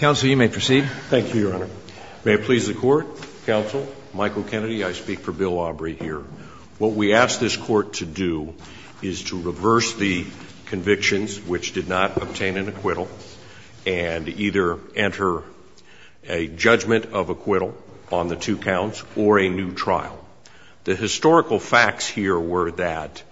What we ask this court to do is to reverse the convictions which did not obtain an acquittal and either enter a judgment of acquittal on the two counts or a new trial. The historical facts here were that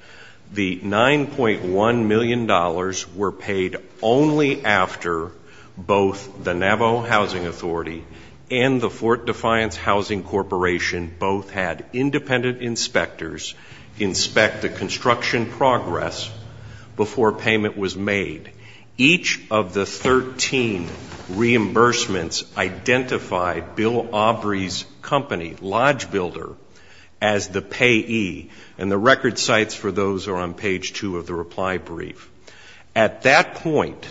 the $9.1 million were paid only after both the Navajo Housing Authority and the Fort Defiance Housing Corporation both had independent inspectors inspect the construction progress before payment was made. Each of the 13 reimbursements identified Bill Aubrey's company, Lodge Builder, as the payee, and the record sites for those are on page 2 of the reply brief. At that point,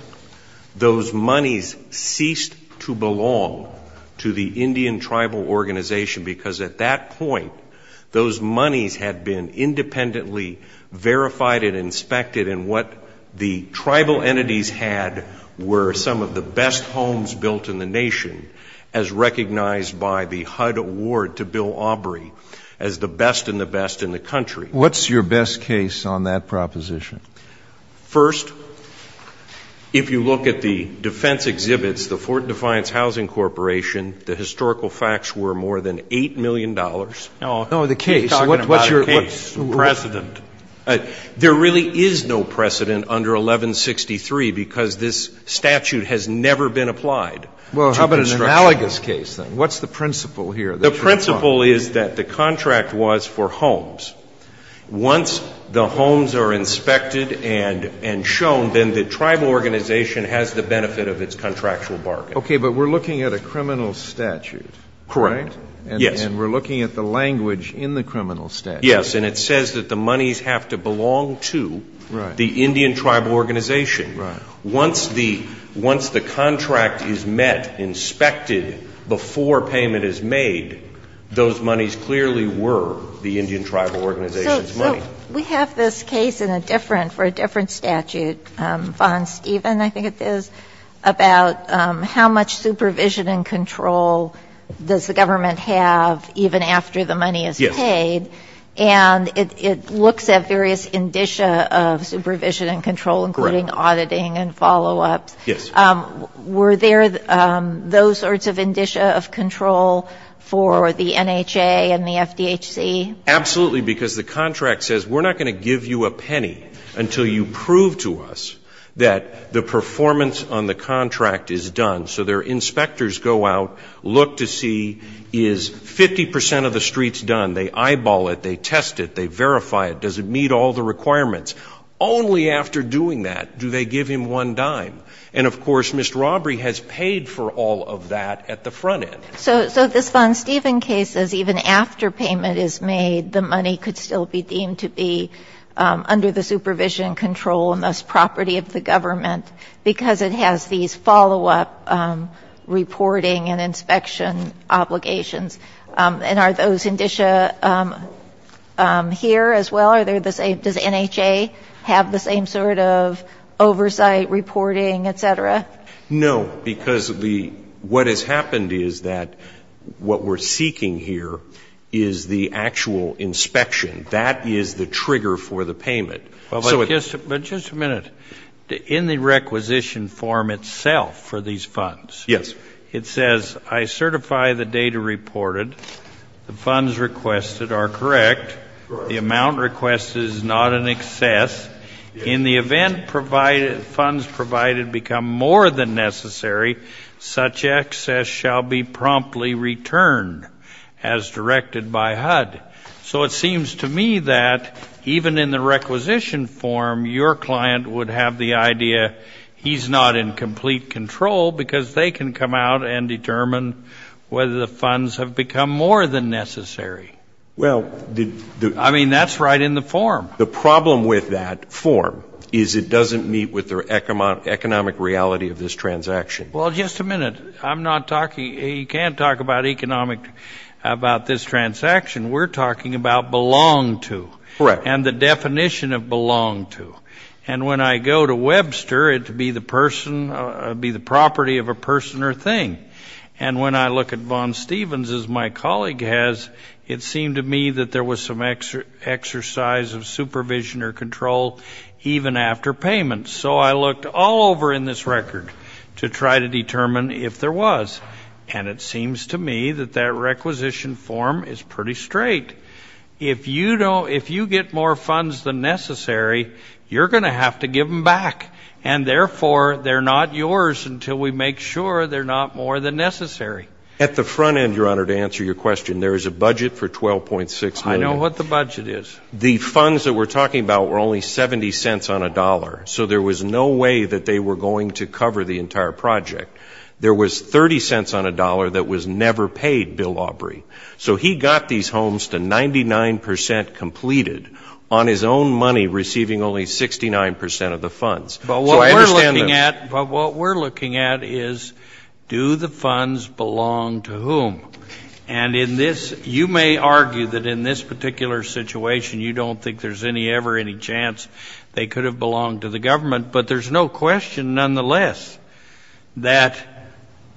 those monies ceased to belong to the Indian Tribal Organization, because at that point, those monies had been independently verified and inspected, and what the tribal entities had were some of the best homes built in the nation, as recognized by the HUD award to Bill Aubrey as the best and the best in the country. What's your best case on that proposition? First, if you look at the defense exhibits, the Fort Defiance Housing Corporation, the historical facts were more than $8 million. No, the case. What's your precedent? There really is no precedent under 1163, because this statute has never been applied. Well, how about an analogous case, then? What's the principle here? The principle is that the contract was for homes. Once the homes are inspected and shown, then the tribal organization has the benefit of its contractual bargain. Okay. But we're looking at a criminal statute, right? Correct. Yes. And we're looking at the language in the criminal statute. Yes. And it says that the monies have to belong to the Indian Tribal Organization. Right. Once the contract is met, inspected, before payment is made, those monies clearly were the Indian Tribal Organization's money. So we have this case in a different, for a different statute, Von Steven, I think it is, about how much supervision and control does the government have even after the money is paid. Yes. And it looks at various indicia of supervision and control, including auditing and follow-ups. Yes. Were there those sorts of indicia of control for the NHA and the FDHC? Absolutely, because the contract says, we're not going to give you a penny until you prove to us that the performance on the contract is done. So their inspectors go out, look to see, is 50 percent of the streets done? They eyeball it. They test it. They verify it. Does it meet all the requirements? Only after doing that do they give him one dime. And, of course, Mr. Robbery has paid for all of that at the front end. So this Von Steven case says even after payment is made, the money could still be deemed to be under the supervision and control and thus property of the government, because it has these follow-up reporting and inspection obligations. And are those indicia here as well? Are they the same? Does NHA have the same sort of oversight, reporting, et cetera? No, because what has happened is that what we're seeking here is the actual inspection. That is the trigger for the payment. But just a minute. In the requisition form itself for these funds, it says, I certify the data reported. The funds requested are correct. The amount requested is not in excess. In the event funds provided become more than necessary, such excess shall be promptly returned as directed by HUD. So it seems to me that even in the requisition form, your client would have the idea he's not in complete control, because they can come out and determine whether the funds have become more than necessary. I mean, that's right in the form. The problem with that form is it doesn't meet with the economic reality of this transaction. Well, just a minute. I'm not talking you can't talk about economic about this transaction. We're talking about belong to. Correct. And the definition of belong to. And when I go to Webster, it would be the property of a person or thing. And when I look at Vaughn Stevens, as my colleague has, it seemed to me that there was some exercise of supervision or control even after payment. So I looked all over in this record to try to determine if there was. And it seems to me that that requisition form is pretty straight. If you get more funds than necessary, you're going to have to give them back. And, therefore, they're not yours until we make sure they're not more than necessary. At the front end, Your Honor, to answer your question, there is a budget for $12.6 million. I know what the budget is. The funds that we're talking about were only $0.70 on a dollar. So there was no way that they were going to cover the entire project. There was $0.30 on a dollar that was never paid, Bill Aubrey. So he got these homes to 99 percent completed on his own money receiving only 69 percent of the funds. So I understand that. But what we're looking at is do the funds belong to whom? And in this, you may argue that in this particular situation you don't think there's ever any chance they could have belonged to the government. But there's no question, nonetheless, that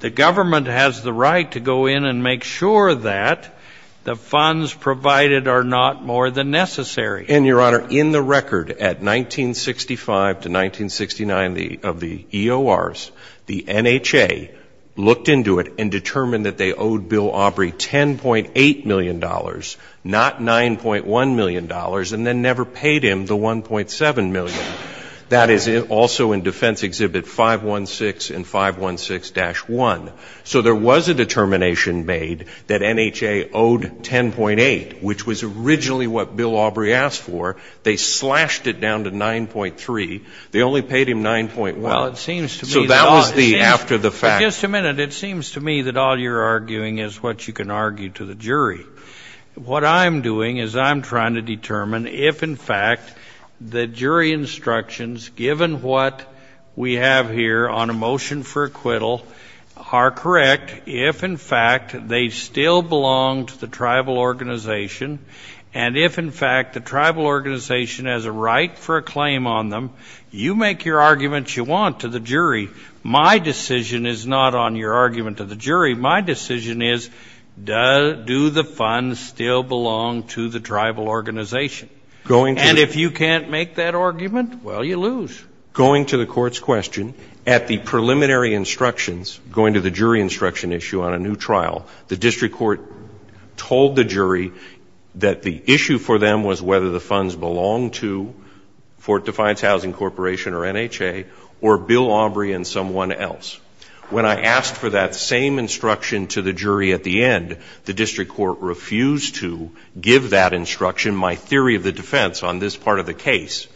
the government has the right to go in and make sure that the funds provided are not more than necessary. And, Your Honor, in the record at 1965 to 1969 of the EORs, the NHA looked into it and determined that they owed Bill Aubrey $10.8 million, not $9.1 million, and then never paid him the $1.7 million. That is also in Defense Exhibit 516 and 516-1. So there was a determination made that NHA owed $10.8, which was originally what Bill Aubrey asked for. They slashed it down to $9.3. They only paid him $9.1. So that was after the fact. But just a minute. It seems to me that all you're arguing is what you can argue to the jury. What I'm doing is I'm trying to determine if, in fact, the jury instructions, given what we have here on a motion for acquittal, are correct, if, in fact, they still belong to the tribal organization, and if, in fact, the tribal organization has a right for a claim on them. You make your arguments you want to the jury. My decision is not on your argument to the jury. My decision is, do the funds still belong to the tribal organization? And if you can't make that argument, well, you lose. Going to the Court's question, at the preliminary instructions, going to the jury instruction issue on a new trial, the district court told the jury that the issue for them was whether the funds belonged to Fort Defiance Housing Corporation or NHA or Bill Aubrey and someone else. When I asked for that same instruction to the jury at the end, the district court refused to give that instruction, my theory of the defense on this part of the case.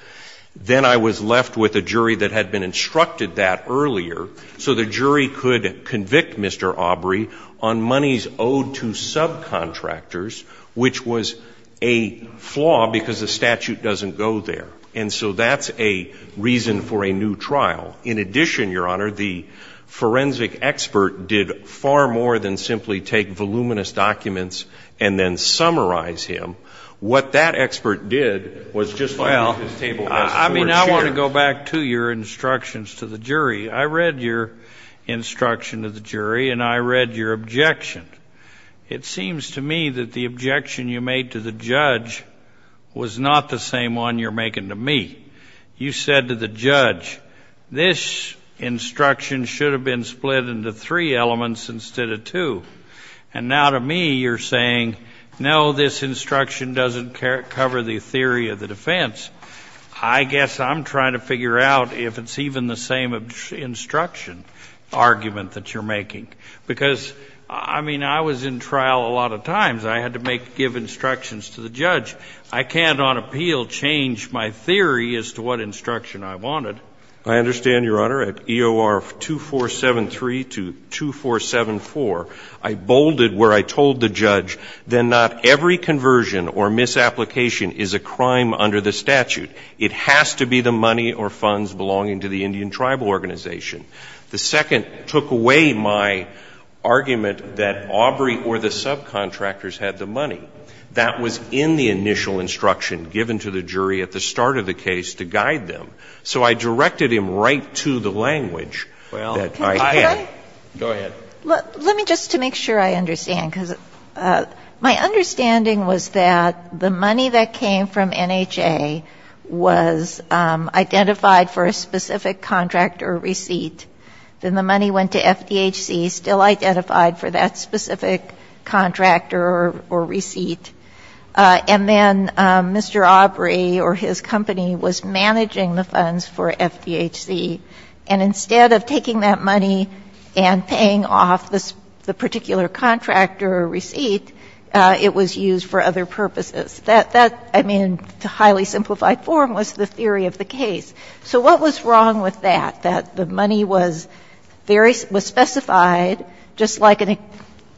Then I was left with a jury that had been instructed that earlier, so the jury could convict Mr. Aubrey on monies owed to subcontractors, which was a flaw because the statute doesn't go there. And so that's a reason for a new trial. In addition, Your Honor, the forensic expert did far more than simply take voluminous documents and then summarize him. What that expert did was just lay off his table as court chair. Well, I mean, I want to go back to your instructions to the jury. I read your instruction to the jury, and I read your objection. It seems to me that the objection you made to the judge was not the same one you're making to me. You said to the judge, this instruction should have been split into three elements instead of two. And now to me, you're saying, no, this instruction doesn't cover the theory of the defense. I guess I'm trying to figure out if it's even the same instruction argument that you're making. Because, I mean, I was in trial a lot of times. I had to give instructions to the judge. I can't on appeal change my theory as to what instruction I wanted. I understand, Your Honor. At EOR 2473 to 2474, I bolded where I told the judge that not every conversion or misapplication is a crime under the statute. It has to be the money or funds belonging to the Indian tribal organization. The second took away my argument that Aubrey or the subcontractors had the money. That was in the initial instruction given to the jury at the start of the case to guide them. So I directed him right to the language that I had. Go ahead. Let me just to make sure I understand. Because my understanding was that the money that came from NHA was identified for a specific contract or receipt. Then the money went to FDHC, still identified for that specific contractor or receipt. And then Mr. Aubrey or his company was managing the funds for FDHC. And instead of taking that money and paying off the particular contractor or receipt, it was used for other purposes. That, I mean, in highly simplified form was the theory of the case. So what was wrong with that, that the money was specified just like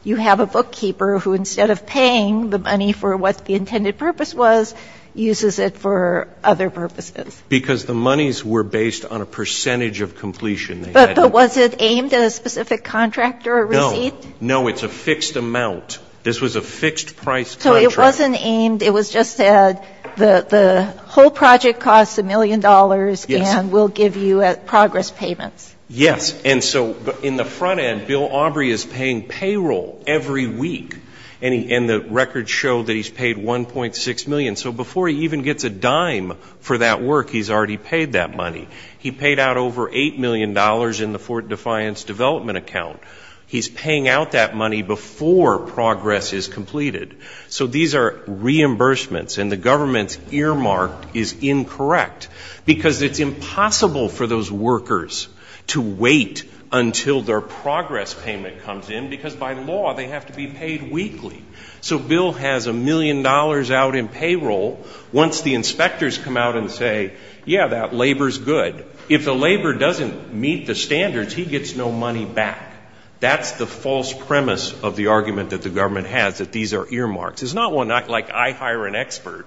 you have a bookkeeper who instead of paying the money for what the intended purpose was, uses it for other purposes? Because the monies were based on a percentage of completion. But was it aimed at a specific contractor or receipt? No. No. It's a fixed amount. This was a fixed price contract. So it wasn't aimed. It was just said the whole project costs $1 million and we'll give you progress payments. Yes. And so in the front end, Bill Aubrey is paying payroll every week. And the records show that he's paid $1.6 million. So before he even gets a dime for that work, he's already paid that money. He paid out over $8 million in the Fort Defiance development account. He's paying out that money before progress is completed. So these are reimbursements and the government's earmark is incorrect because it's impossible for those workers to wait until their progress payment comes in because by law they have to be paid weekly. So Bill has $1 million out in payroll. Once the inspectors come out and say, yeah, that labor's good, if the labor doesn't meet the standards, he gets no money back. That's the false premise of the argument that the government has, that these are earmarks. It's not like I hire an expert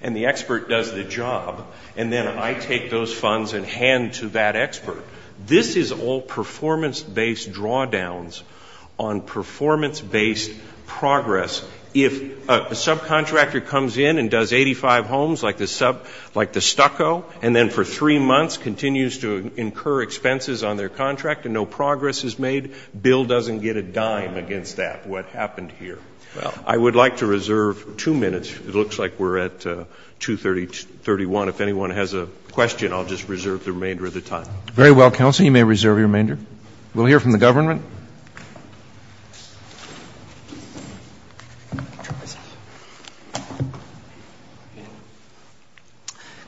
and the expert does the job and then I take those funds and hand to that expert. This is all performance-based drawdowns on performance-based progress. If a subcontractor comes in and does 85 homes like the Stucco and then for three months continues to incur expenses on their contract and no progress is made, Bill doesn't get a dime against that, what happened here. I would like to reserve two minutes. It looks like we're at 2.30, 2.31. If anyone has a question, I'll just reserve the remainder of the time. Very well, counsel. You may reserve your remainder. We'll hear from the government.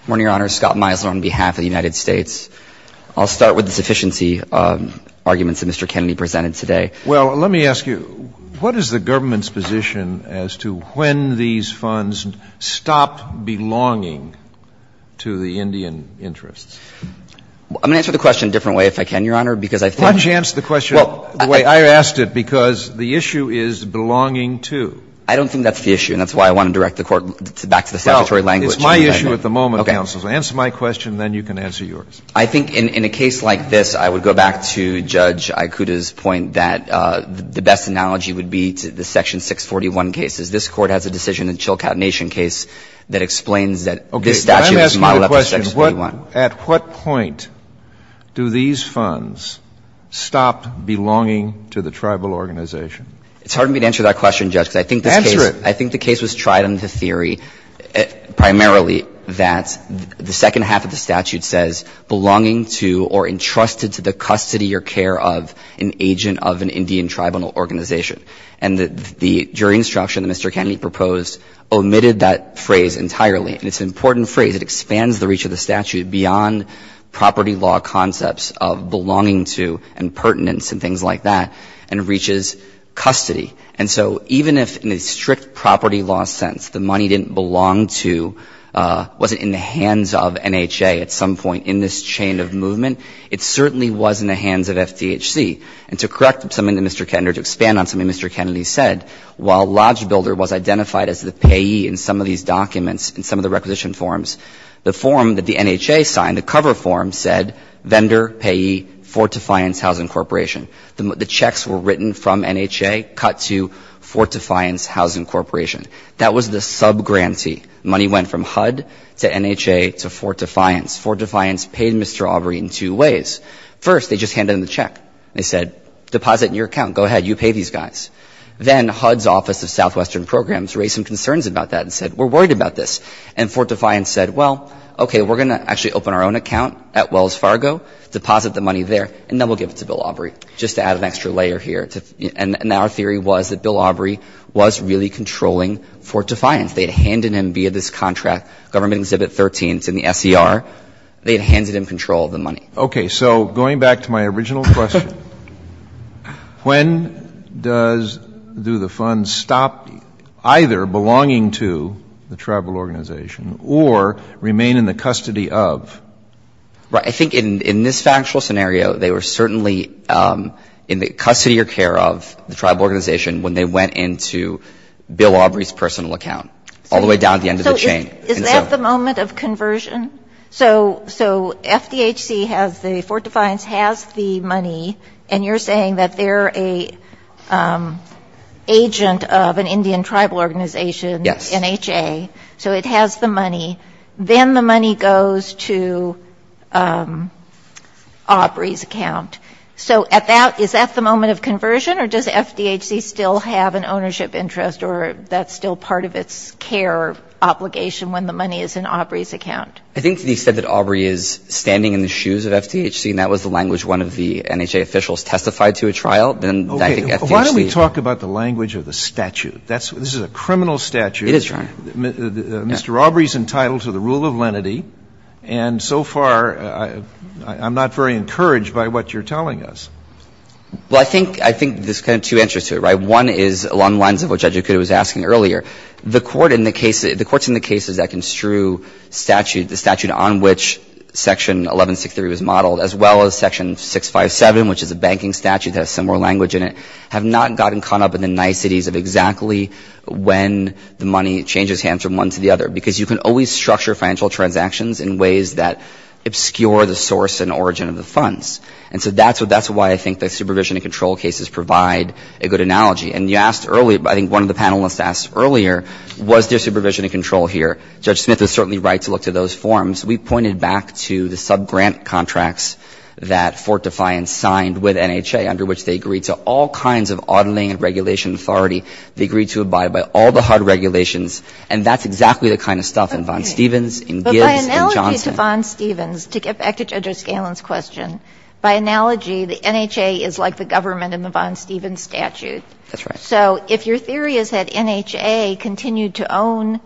Good morning, Your Honor. Scott Meisler on behalf of the United States. I'll start with the sufficiency arguments that Mr. Kennedy presented today. Well, let me ask you, what is the government's position as to when these funds stop belonging to the Indian interests? I'm going to answer the question a different way if I can, Your Honor, because I think Well, why don't you answer the question the way I asked it, because the issue is belonging to. I don't think that's the issue and that's why I want to direct the Court back to the statutory language. Well, it's my issue at the moment, counsel. Okay. Answer my question, then you can answer yours. I think in a case like this, I would go back to Judge Ikuta's point that the best analogy would be to the Section 641 cases. This Court has a decision in the Chilkat Nation case that explains that this statute is modeled after Section 641. Okay. But I'm asking the question, at what point do these funds stop belonging to the tribal organization? It's hard for me to answer that question, Judge, because I think this case Answer primarily that the second half of the statute says belonging to or entrusted to the custody or care of an agent of an Indian tribal organization. And the jury instruction that Mr. Kennedy proposed omitted that phrase entirely, and it's an important phrase. It expands the reach of the statute beyond property law concepts of belonging to and pertinence and things like that, and reaches custody. And so even if in a strict property law sense the money didn't belong to, wasn't in the hands of NHA at some point in this chain of movement, it certainly was in the hands of FDHC. And to correct something that Mr. Kennedy or to expand on something Mr. Kennedy said, while Lodge Builder was identified as the payee in some of these documents and some of the requisition forms, the form that the NHA signed, the cover form, said vendor, payee, Fort Defiance Housing Corporation. The checks were written from NHA cut to Fort Defiance Housing Corporation. That was the subgrantee. Money went from HUD to NHA to Fort Defiance. Fort Defiance paid Mr. Aubrey in two ways. First, they just handed him the check. They said deposit in your account. Go ahead. You pay these guys. Then HUD's Office of Southwestern Programs raised some concerns about that and said we're worried about this. And Fort Defiance said, well, okay, we're going to actually open our own account at Wells Fargo, deposit the money there, and then we'll give it to Bill Aubrey just to add an extra layer here. And our theory was that Bill Aubrey was really controlling Fort Defiance. They had handed him, via this contract, Government Exhibit 13, it's in the SCR, they had handed him control of the money. Okay. So going back to my original question, when does do the funds stop either belonging to the tribal organization or remain in the custody of? Right. I think in this factual scenario, they were certainly in the custody or care of the tribal organization when they went into Bill Aubrey's personal account, all the way down to the end of the chain. So is that the moment of conversion? So FDHC has the Fort Defiance has the money, and you're saying that they're an agent of an Indian tribal organization? Yes. NHA. So it has the money. Then the money goes to Aubrey's account. So is that the moment of conversion, or does FDHC still have an ownership interest or that's still part of its care obligation when the money is in Aubrey's account? I think that he said that Aubrey is standing in the shoes of FDHC, and that was the language one of the NHA officials testified to at trial. Okay. Why don't we talk about the language of the statute? This is a criminal statute. It is, Your Honor. Mr. Aubrey is entitled to the rule of lenity. And so far, I'm not very encouraged by what you're telling us. Well, I think there's kind of two answers to it, right? One is along the lines of what Judge Acuto was asking earlier. The court in the case, the courts in the cases that construe statute, the statute on which Section 1163 was modeled, as well as Section 657, which is a banking statute that has similar language in it, have not gotten caught up in the niceties of exactly when the money changes hands from one to the other. Because you can always structure financial transactions in ways that obscure the source and origin of the funds. And so that's why I think the supervision and control cases provide a good analogy. And you asked earlier, I think one of the panelists asked earlier, was there supervision and control here? Judge Smith is certainly right to look to those forms. We pointed back to the subgrant contracts that Fort Defiance signed with NHA, under which they agreed to all kinds of auditing and regulation authority. They agreed to abide by all the hard regulations. And that's exactly the kind of stuff in Von Stevens, in Gibbs, in Johnson. But by analogy to Von Stevens, to get back to Judge O'Scallion's question, by analogy, the NHA is like the government in the Von Stevens statute. That's right. So if your theory is that NHA continued to own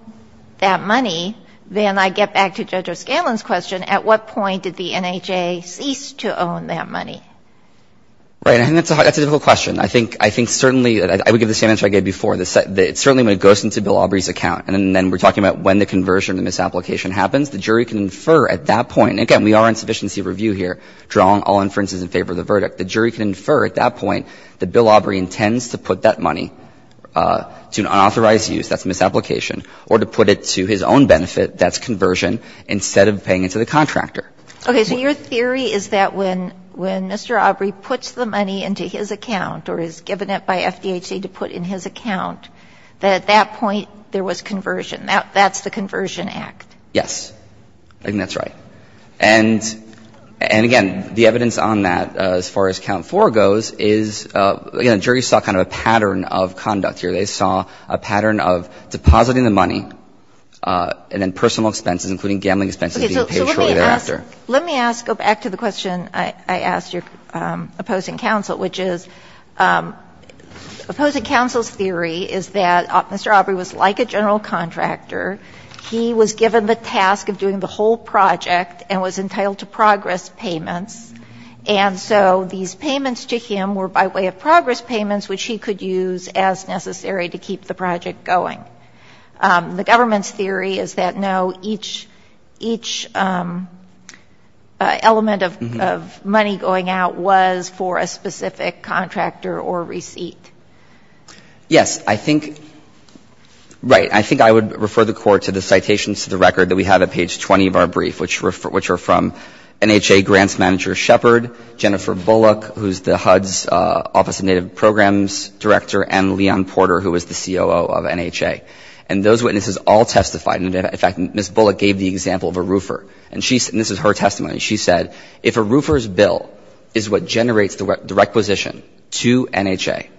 that money, then I get back to Judge O'Scallion's question, at what point did the NHA cease to own that money? Right. And that's a difficult question. I think certainly, I would give the same answer I gave before. It certainly goes into Bill Aubrey's account. And then we're talking about when the conversion, the misapplication happens. The jury can infer at that point, and again, we are on sufficiency review here, drawing all inferences in favor of the verdict. The jury can infer at that point that Bill Aubrey intends to put that money to an unauthorized use, that's misapplication, or to put it to his own benefit, that's conversion, instead of paying it to the contractor. Okay. So your theory is that when Mr. Aubrey puts the money into his account or is given it by FDHC to put in his account, that at that point there was conversion. That's the Conversion Act. Yes. I think that's right. And again, the evidence on that, as far as count 4 goes, is, again, the jury saw kind of a pattern of conduct here. They saw a pattern of depositing the money and then personal expenses, including gambling expenses being paid shortly thereafter. Let me ask, go back to the question I asked your opposing counsel, which is opposing counsel's theory is that Mr. Aubrey was like a general contractor. He was given the task of doing the whole project and was entitled to progress payments, and so these payments to him were by way of progress payments which he could use as necessary to keep the project going. The government's theory is that, no, each element of money going out was for a specific contractor or receipt. Yes. I think — right. I think I would refer the Court to the citations to the record that we have at page 20 of our brief, which are from NHA Grants Manager Shepard, Jennifer Bullock, who's the HUD's Office of Native Programs Director, and Leon Porter, who is the COO of NHA. And those witnesses all testified. In fact, Ms. Bullock gave the example of a roofer, and this is her testimony. She said, if a roofer's bill is what generates the requisition to NHA,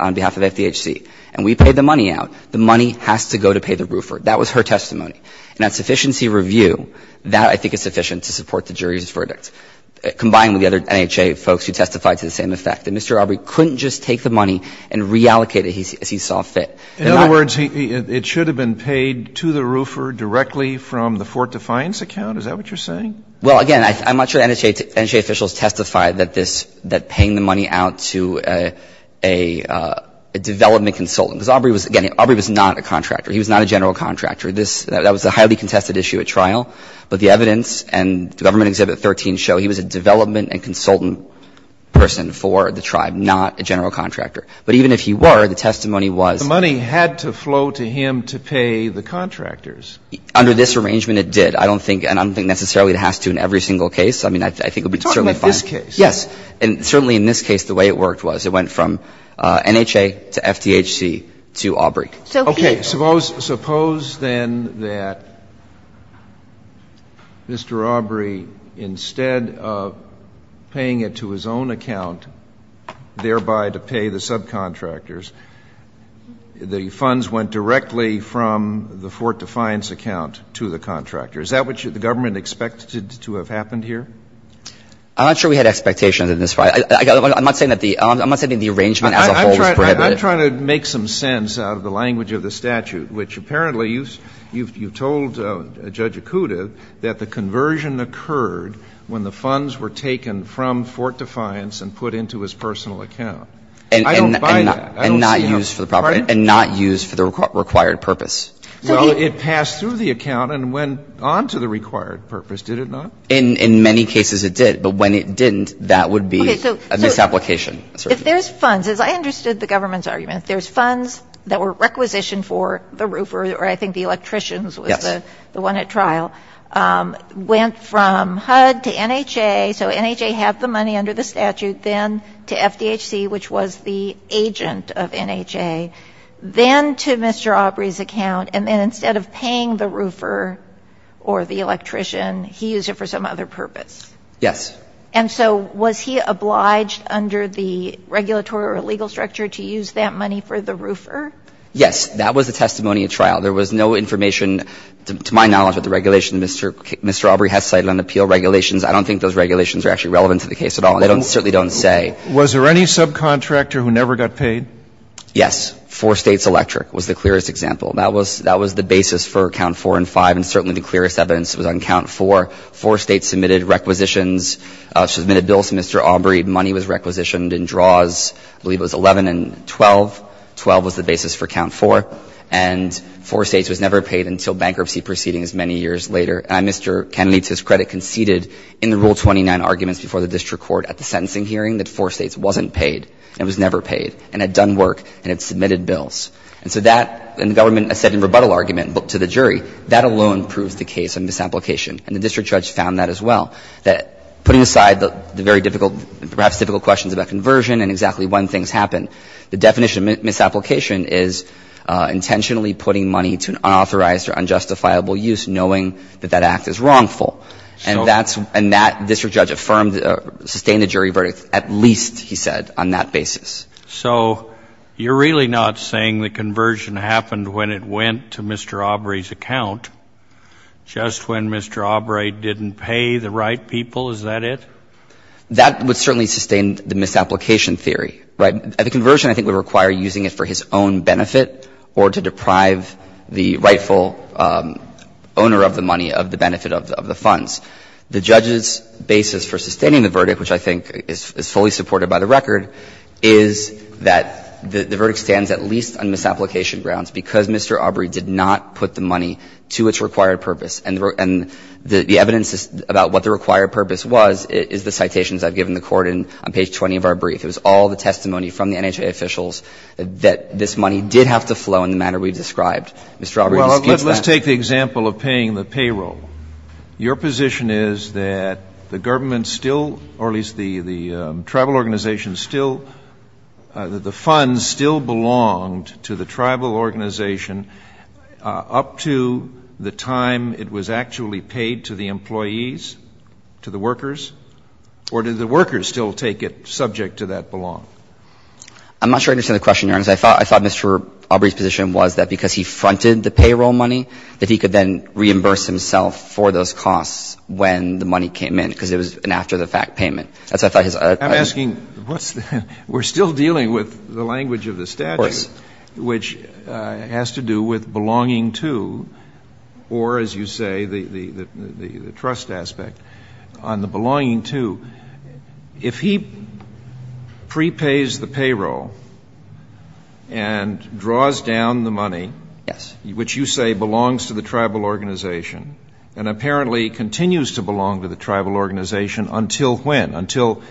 on behalf of FDHC, and we pay the money out, the money has to go to pay the roofer. That was her testimony. And that sufficiency review, that I think is sufficient to support the jury's verdict, combined with the other NHA folks who testified to the same effect, that Mr. Aubrey couldn't just take the money and reallocate it as he saw fit. In other words, it should have been paid to the roofer directly from the Fort Defiance account? Is that what you're saying? Well, again, I'm not sure NHA officials testified that this, that paying the money out to a development consultant, because Aubrey was, again, Aubrey was not a contractor. He was not a general contractor. That was a highly contested issue at trial. But the evidence and Government Exhibit 13 show he was a development and consultant person for the tribe, not a general contractor. But even if he were, the testimony was. The money had to flow to him to pay the contractors. Under this arrangement, it did. I don't think, and I don't think necessarily it has to in every single case. I mean, I think it would be certainly fine. You're talking about this case? Yes. And certainly in this case, the way it worked was it went from NHA to FDHC to Aubrey. Okay. Suppose then that Mr. Aubrey, instead of paying it to his own account, thereby to pay the subcontractors, the funds went directly from the Fort Defiance account to the contractor. Is that what the Government expected to have happened here? I'm not sure we had expectations in this case. I'm not saying that the arrangement as a whole was prohibited. I'm trying to make some sense out of the language of the statute, which apparently you've told Judge Acuda that the conversion occurred when the funds were taken from Fort Defiance and put into his personal account. I don't buy that. And not used for the required purpose. Well, it passed through the account and went on to the required purpose, did it not? In many cases it did. But when it didn't, that would be a misapplication. Okay. So if there's funds, as I understood the Government's argument, if there's funds that were requisitioned for the roofer, or I think the electricians was the one at trial, went from HUD to NHA, so NHA had the money under the statute, then to FDHC, which was the agent of NHA, then to Mr. Aubrey's account, and then instead of paying the roofer or the electrician, he used it for some other purpose? Yes. And so was he obliged under the regulatory or legal structure to use that money for the roofer? Yes. That was the testimony at trial. There was no information, to my knowledge, with the regulation. Mr. Aubrey has cited an appeal regulations. I don't think those regulations are actually relevant to the case at all. They certainly don't say. Was there any subcontractor who never got paid? Yes. Four States Electric was the clearest example. That was the basis for Count 4 and 5, and certainly the clearest evidence was on Count 4. Four States submitted requisitions, submitted bills to Mr. Aubrey. Money was requisitioned in draws, I believe it was 11 and 12. 12 was the basis for Count 4. And Four States was never paid until bankruptcy proceedings many years later. And Mr. Kennedy, to his credit, conceded in the Rule 29 arguments before the district court at the sentencing hearing that Four States wasn't paid and was never paid and had done work and had submitted bills. And so that, and the government said in rebuttal argument to the jury, that alone proves the case of misapplication, and the district judge found that as well, that putting aside the very difficult, perhaps difficult questions about conversion and exactly when things happen, the definition of misapplication is intentionally putting money to an unauthorized or unjustifiable use, knowing that that act is wrongful. And that's, and that district judge affirmed, sustained the jury verdict. At least, he said, on that basis. So you're really not saying the conversion happened when it went to Mr. Aubrey's account, just when Mr. Aubrey didn't pay the right people, is that it? That would certainly sustain the misapplication theory, right? The conversion, I think, would require using it for his own benefit or to deprive the rightful owner of the money of the benefit of the funds. The judge's basis for sustaining the verdict, which I think is fully supported by the record, is that the verdict stands at least on misapplication grounds because Mr. Aubrey did not put the money to its required purpose. And the evidence about what the required purpose was is the citations I've given the Court in on page 20 of our brief. It was all the testimony from the NHA officials that this money did have to flow in the manner we described. Mr. Aubrey disputes that. Well, let's take the example of paying the payroll. Your position is that the government still, or at least the tribal organization still, that the funds still belonged to the tribal organization up to the time it was actually paid to the employees, to the workers? Or did the workers still take it subject to that belong? I'm not sure I understand the question, Your Honor. I thought Mr. Aubrey's position was that because he fronted the payroll money, that he could then reimburse himself for those costs when the money came in because it was an after-the-fact payment. That's what I thought his argument was. I'm asking what's the – we're still dealing with the language of the statute, which has to do with belonging to, or as you say, the trust aspect, on the belonging to, if he prepays the payroll and draws down the money, which you say belongs to the tribal organization and apparently continues to belong to the tribal organization until when? Until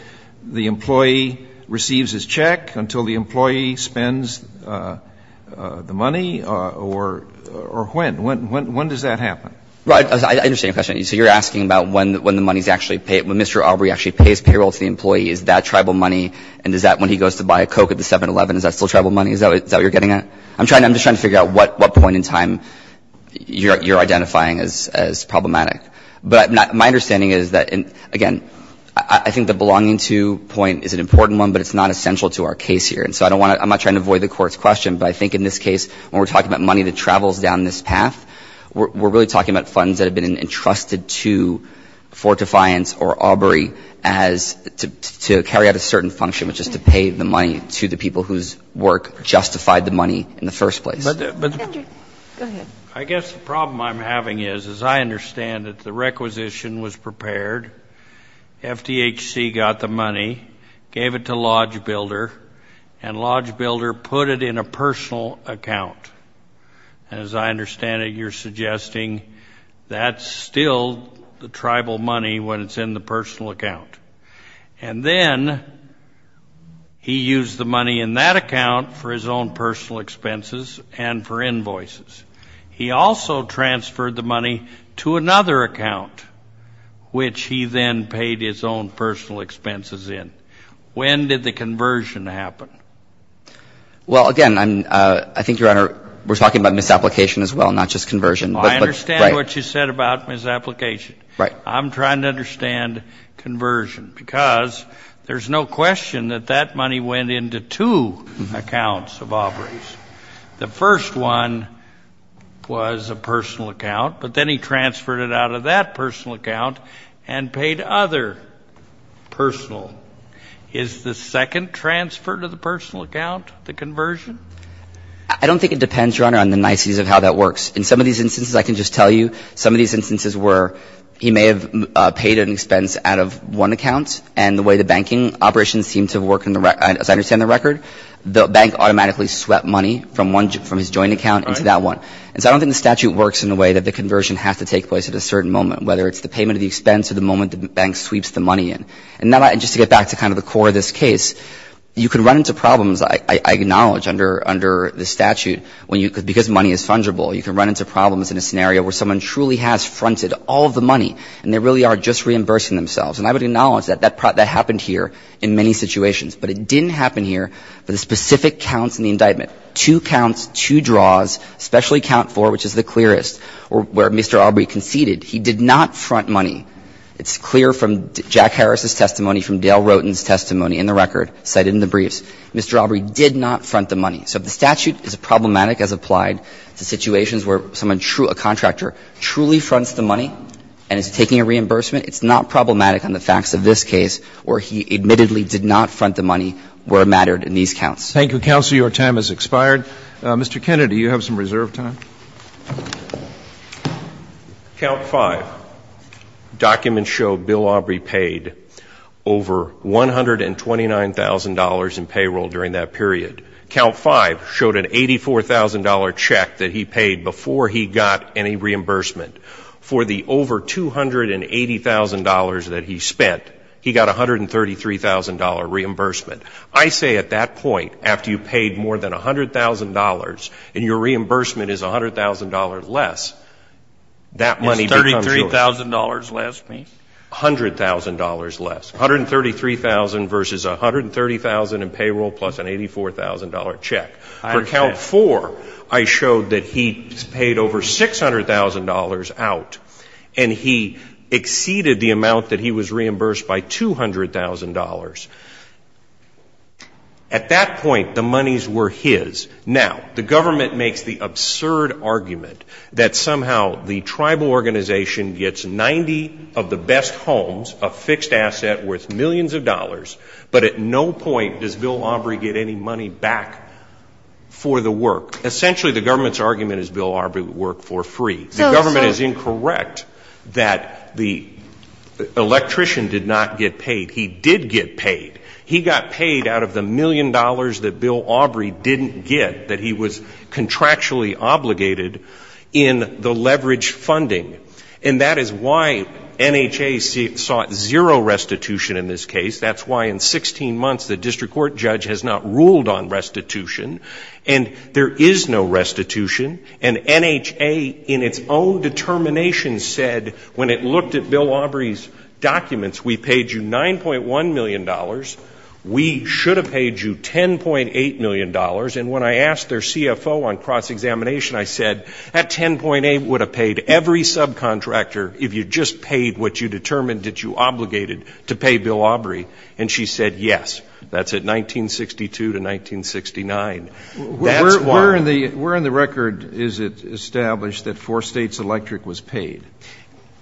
the employee receives his check? Until the employee spends the money? Or when? When does that happen? Right. I understand your question. So you're asking about when Mr. Aubrey actually pays payroll to the employee. Is that tribal money? And is that when he goes to buy a Coke at the 7-Eleven, is that still tribal money? Is that what you're getting at? I'm just trying to figure out what point in time you're identifying as problematic. But my understanding is that, again, I think the belonging to point is an important one, but it's not essential to our case here. And so I don't want to – I'm not trying to avoid the Court's question, but I think in this case, when we're talking about money that travels down this path, we're really talking about funds that have been entrusted to Fort Defiance or Aubrey as – to carry out a certain function, which is to pay the money to the people whose work justified the money in the first place. Andrew, go ahead. I guess the problem I'm having is, as I understand it, the requisition was prepared, FDHC got the money, gave it to Lodge Builder, and Lodge Builder put it in a personal account. And as I understand it, you're suggesting that's still the tribal money when it's in the personal account. And then he used the money in that account for his own personal expenses and for invoices. He also transferred the money to another account, which he then paid his own personal expenses in. When did the conversion happen? Well, again, I'm – I think, Your Honor, we're talking about misapplication as well, not just conversion. Well, I understand what you said about misapplication. Right. I'm trying to understand conversion, because there's no question that that money went into two accounts of Aubrey's. The first one was a personal account, but then he transferred it out of that personal account and paid other personal. Is the second transfer to the personal account the conversion? I don't think it depends, Your Honor, on the niceties of how that works. In some of these instances, I can just tell you, some of these instances were he may have paid an expense out of one account, and the way the banking operations seem to work, as I understand the record, the bank automatically swept money from his joint account into that one. And so I don't think the statute works in a way that the conversion has to take place at a certain moment, whether it's the payment of the expense or the moment the bank sweeps the money in. And just to get back to kind of the core of this case, you can run into problems, I acknowledge, under the statute, because money is fungible. You can run into problems in a scenario where someone truly has fronted all of the money, and they really are just reimbursing themselves. And I would acknowledge that that happened here in many situations. But it didn't happen here for the specific counts in the indictment. Two counts, two draws, especially count four, which is the clearest, where Mr. Aubrey conceded he did not front money. It's clear from Jack Harris's testimony, from Dale Roten's testimony in the record, cited in the briefs, Mr. Aubrey did not front the money. So if the statute is problematic as applied to situations where someone, a contractor, truly fronts the money and is taking a reimbursement, it's not problematic on the facts of this case where he admittedly did not front the money where it mattered in these counts. Thank you, counsel. Your time has expired. Mr. Kennedy, you have some reserve time. Count five. Documents show Bill Aubrey paid over $129,000 in payroll during that period. Count five showed an $84,000 check that he paid before he got any reimbursement. For the over $280,000 that he spent, he got a $133,000 reimbursement. I say at that point, after you've paid more than $100,000 and your reimbursement is $100,000 less, that money becomes yours. Is $33,000 less? $100,000 less. $133,000 versus $130,000 in payroll plus an $84,000 check. For count four, I showed that he paid over $600,000 out, and he exceeded the amount that he was reimbursed by $200,000. At that point, the monies were his. Now, the government makes the absurd argument that somehow the tribal organization gets 90 of the best homes, a fixed asset worth millions of dollars, but at no point does Bill Aubrey get any money back for the work. Essentially, the government's argument is Bill Aubrey would work for free. The government is incorrect that the electrician did not get paid. He did get paid. He got paid out of the million dollars that Bill Aubrey didn't get, that he was contractually obligated in the leverage funding. And that is why NHA sought zero restitution in this case. That's why in 16 months the district court judge has not ruled on restitution. And there is no restitution. And NHA, in its own determination, said when it looked at Bill Aubrey's documents, we paid you $9.1 million. We should have paid you $10.8 million. And when I asked their CFO on cross-examination, I said, that 10.8 would have paid every subcontractor if you just paid what you determined that you obligated to pay Bill Aubrey. And she said yes. That's at 1962 to 1969. That's why. Where in the record is it established that four states electric was paid?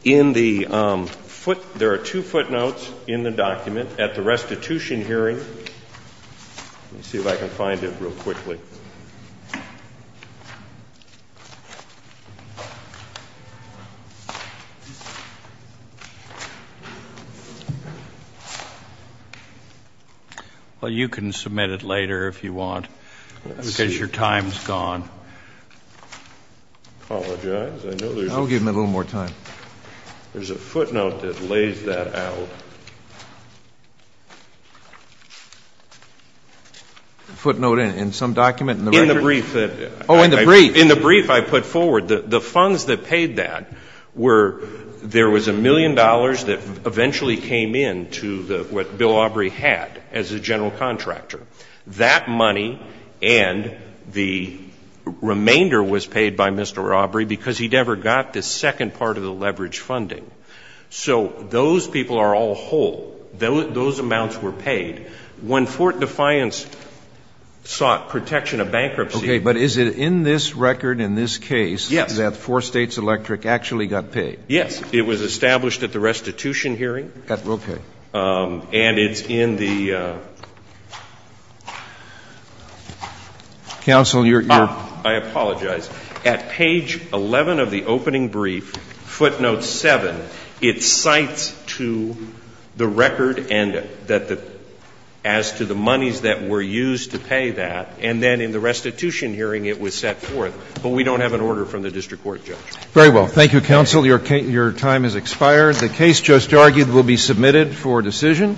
In the foot ñ there are two footnotes in the document at the restitution hearing. Let me see if I can find it real quickly. Well, you can submit it later if you want. Let's see. Because your time is gone. I apologize. I'll give him a little more time. There's a footnote that lays that out. Footnote in some document in the record? In the brief that ñ Oh, in the brief. In the brief I put forward, the funds that paid that were ñ there was a million dollars that eventually came in to what Bill Aubrey had as a general contractor. That money and the remainder was paid by Mr. Aubrey because he never got the second part of the leverage funding. So those people are all whole. Those amounts were paid. When Fort Defiance sought protection of bankruptcy ñ Okay. But is it in this record in this case that four states electric actually got paid? Yes. It was established at the restitution hearing. Okay. And it's in the ñ Counsel, you're ñ I apologize. At page 11 of the opening brief, footnote 7, it cites to the record as to the monies that were used to pay that, and then in the restitution hearing it was set forth. But we don't have an order from the district court, Judge. Very well. Thank you, Counsel. Your time has expired. The case just argued will be submitted for decision.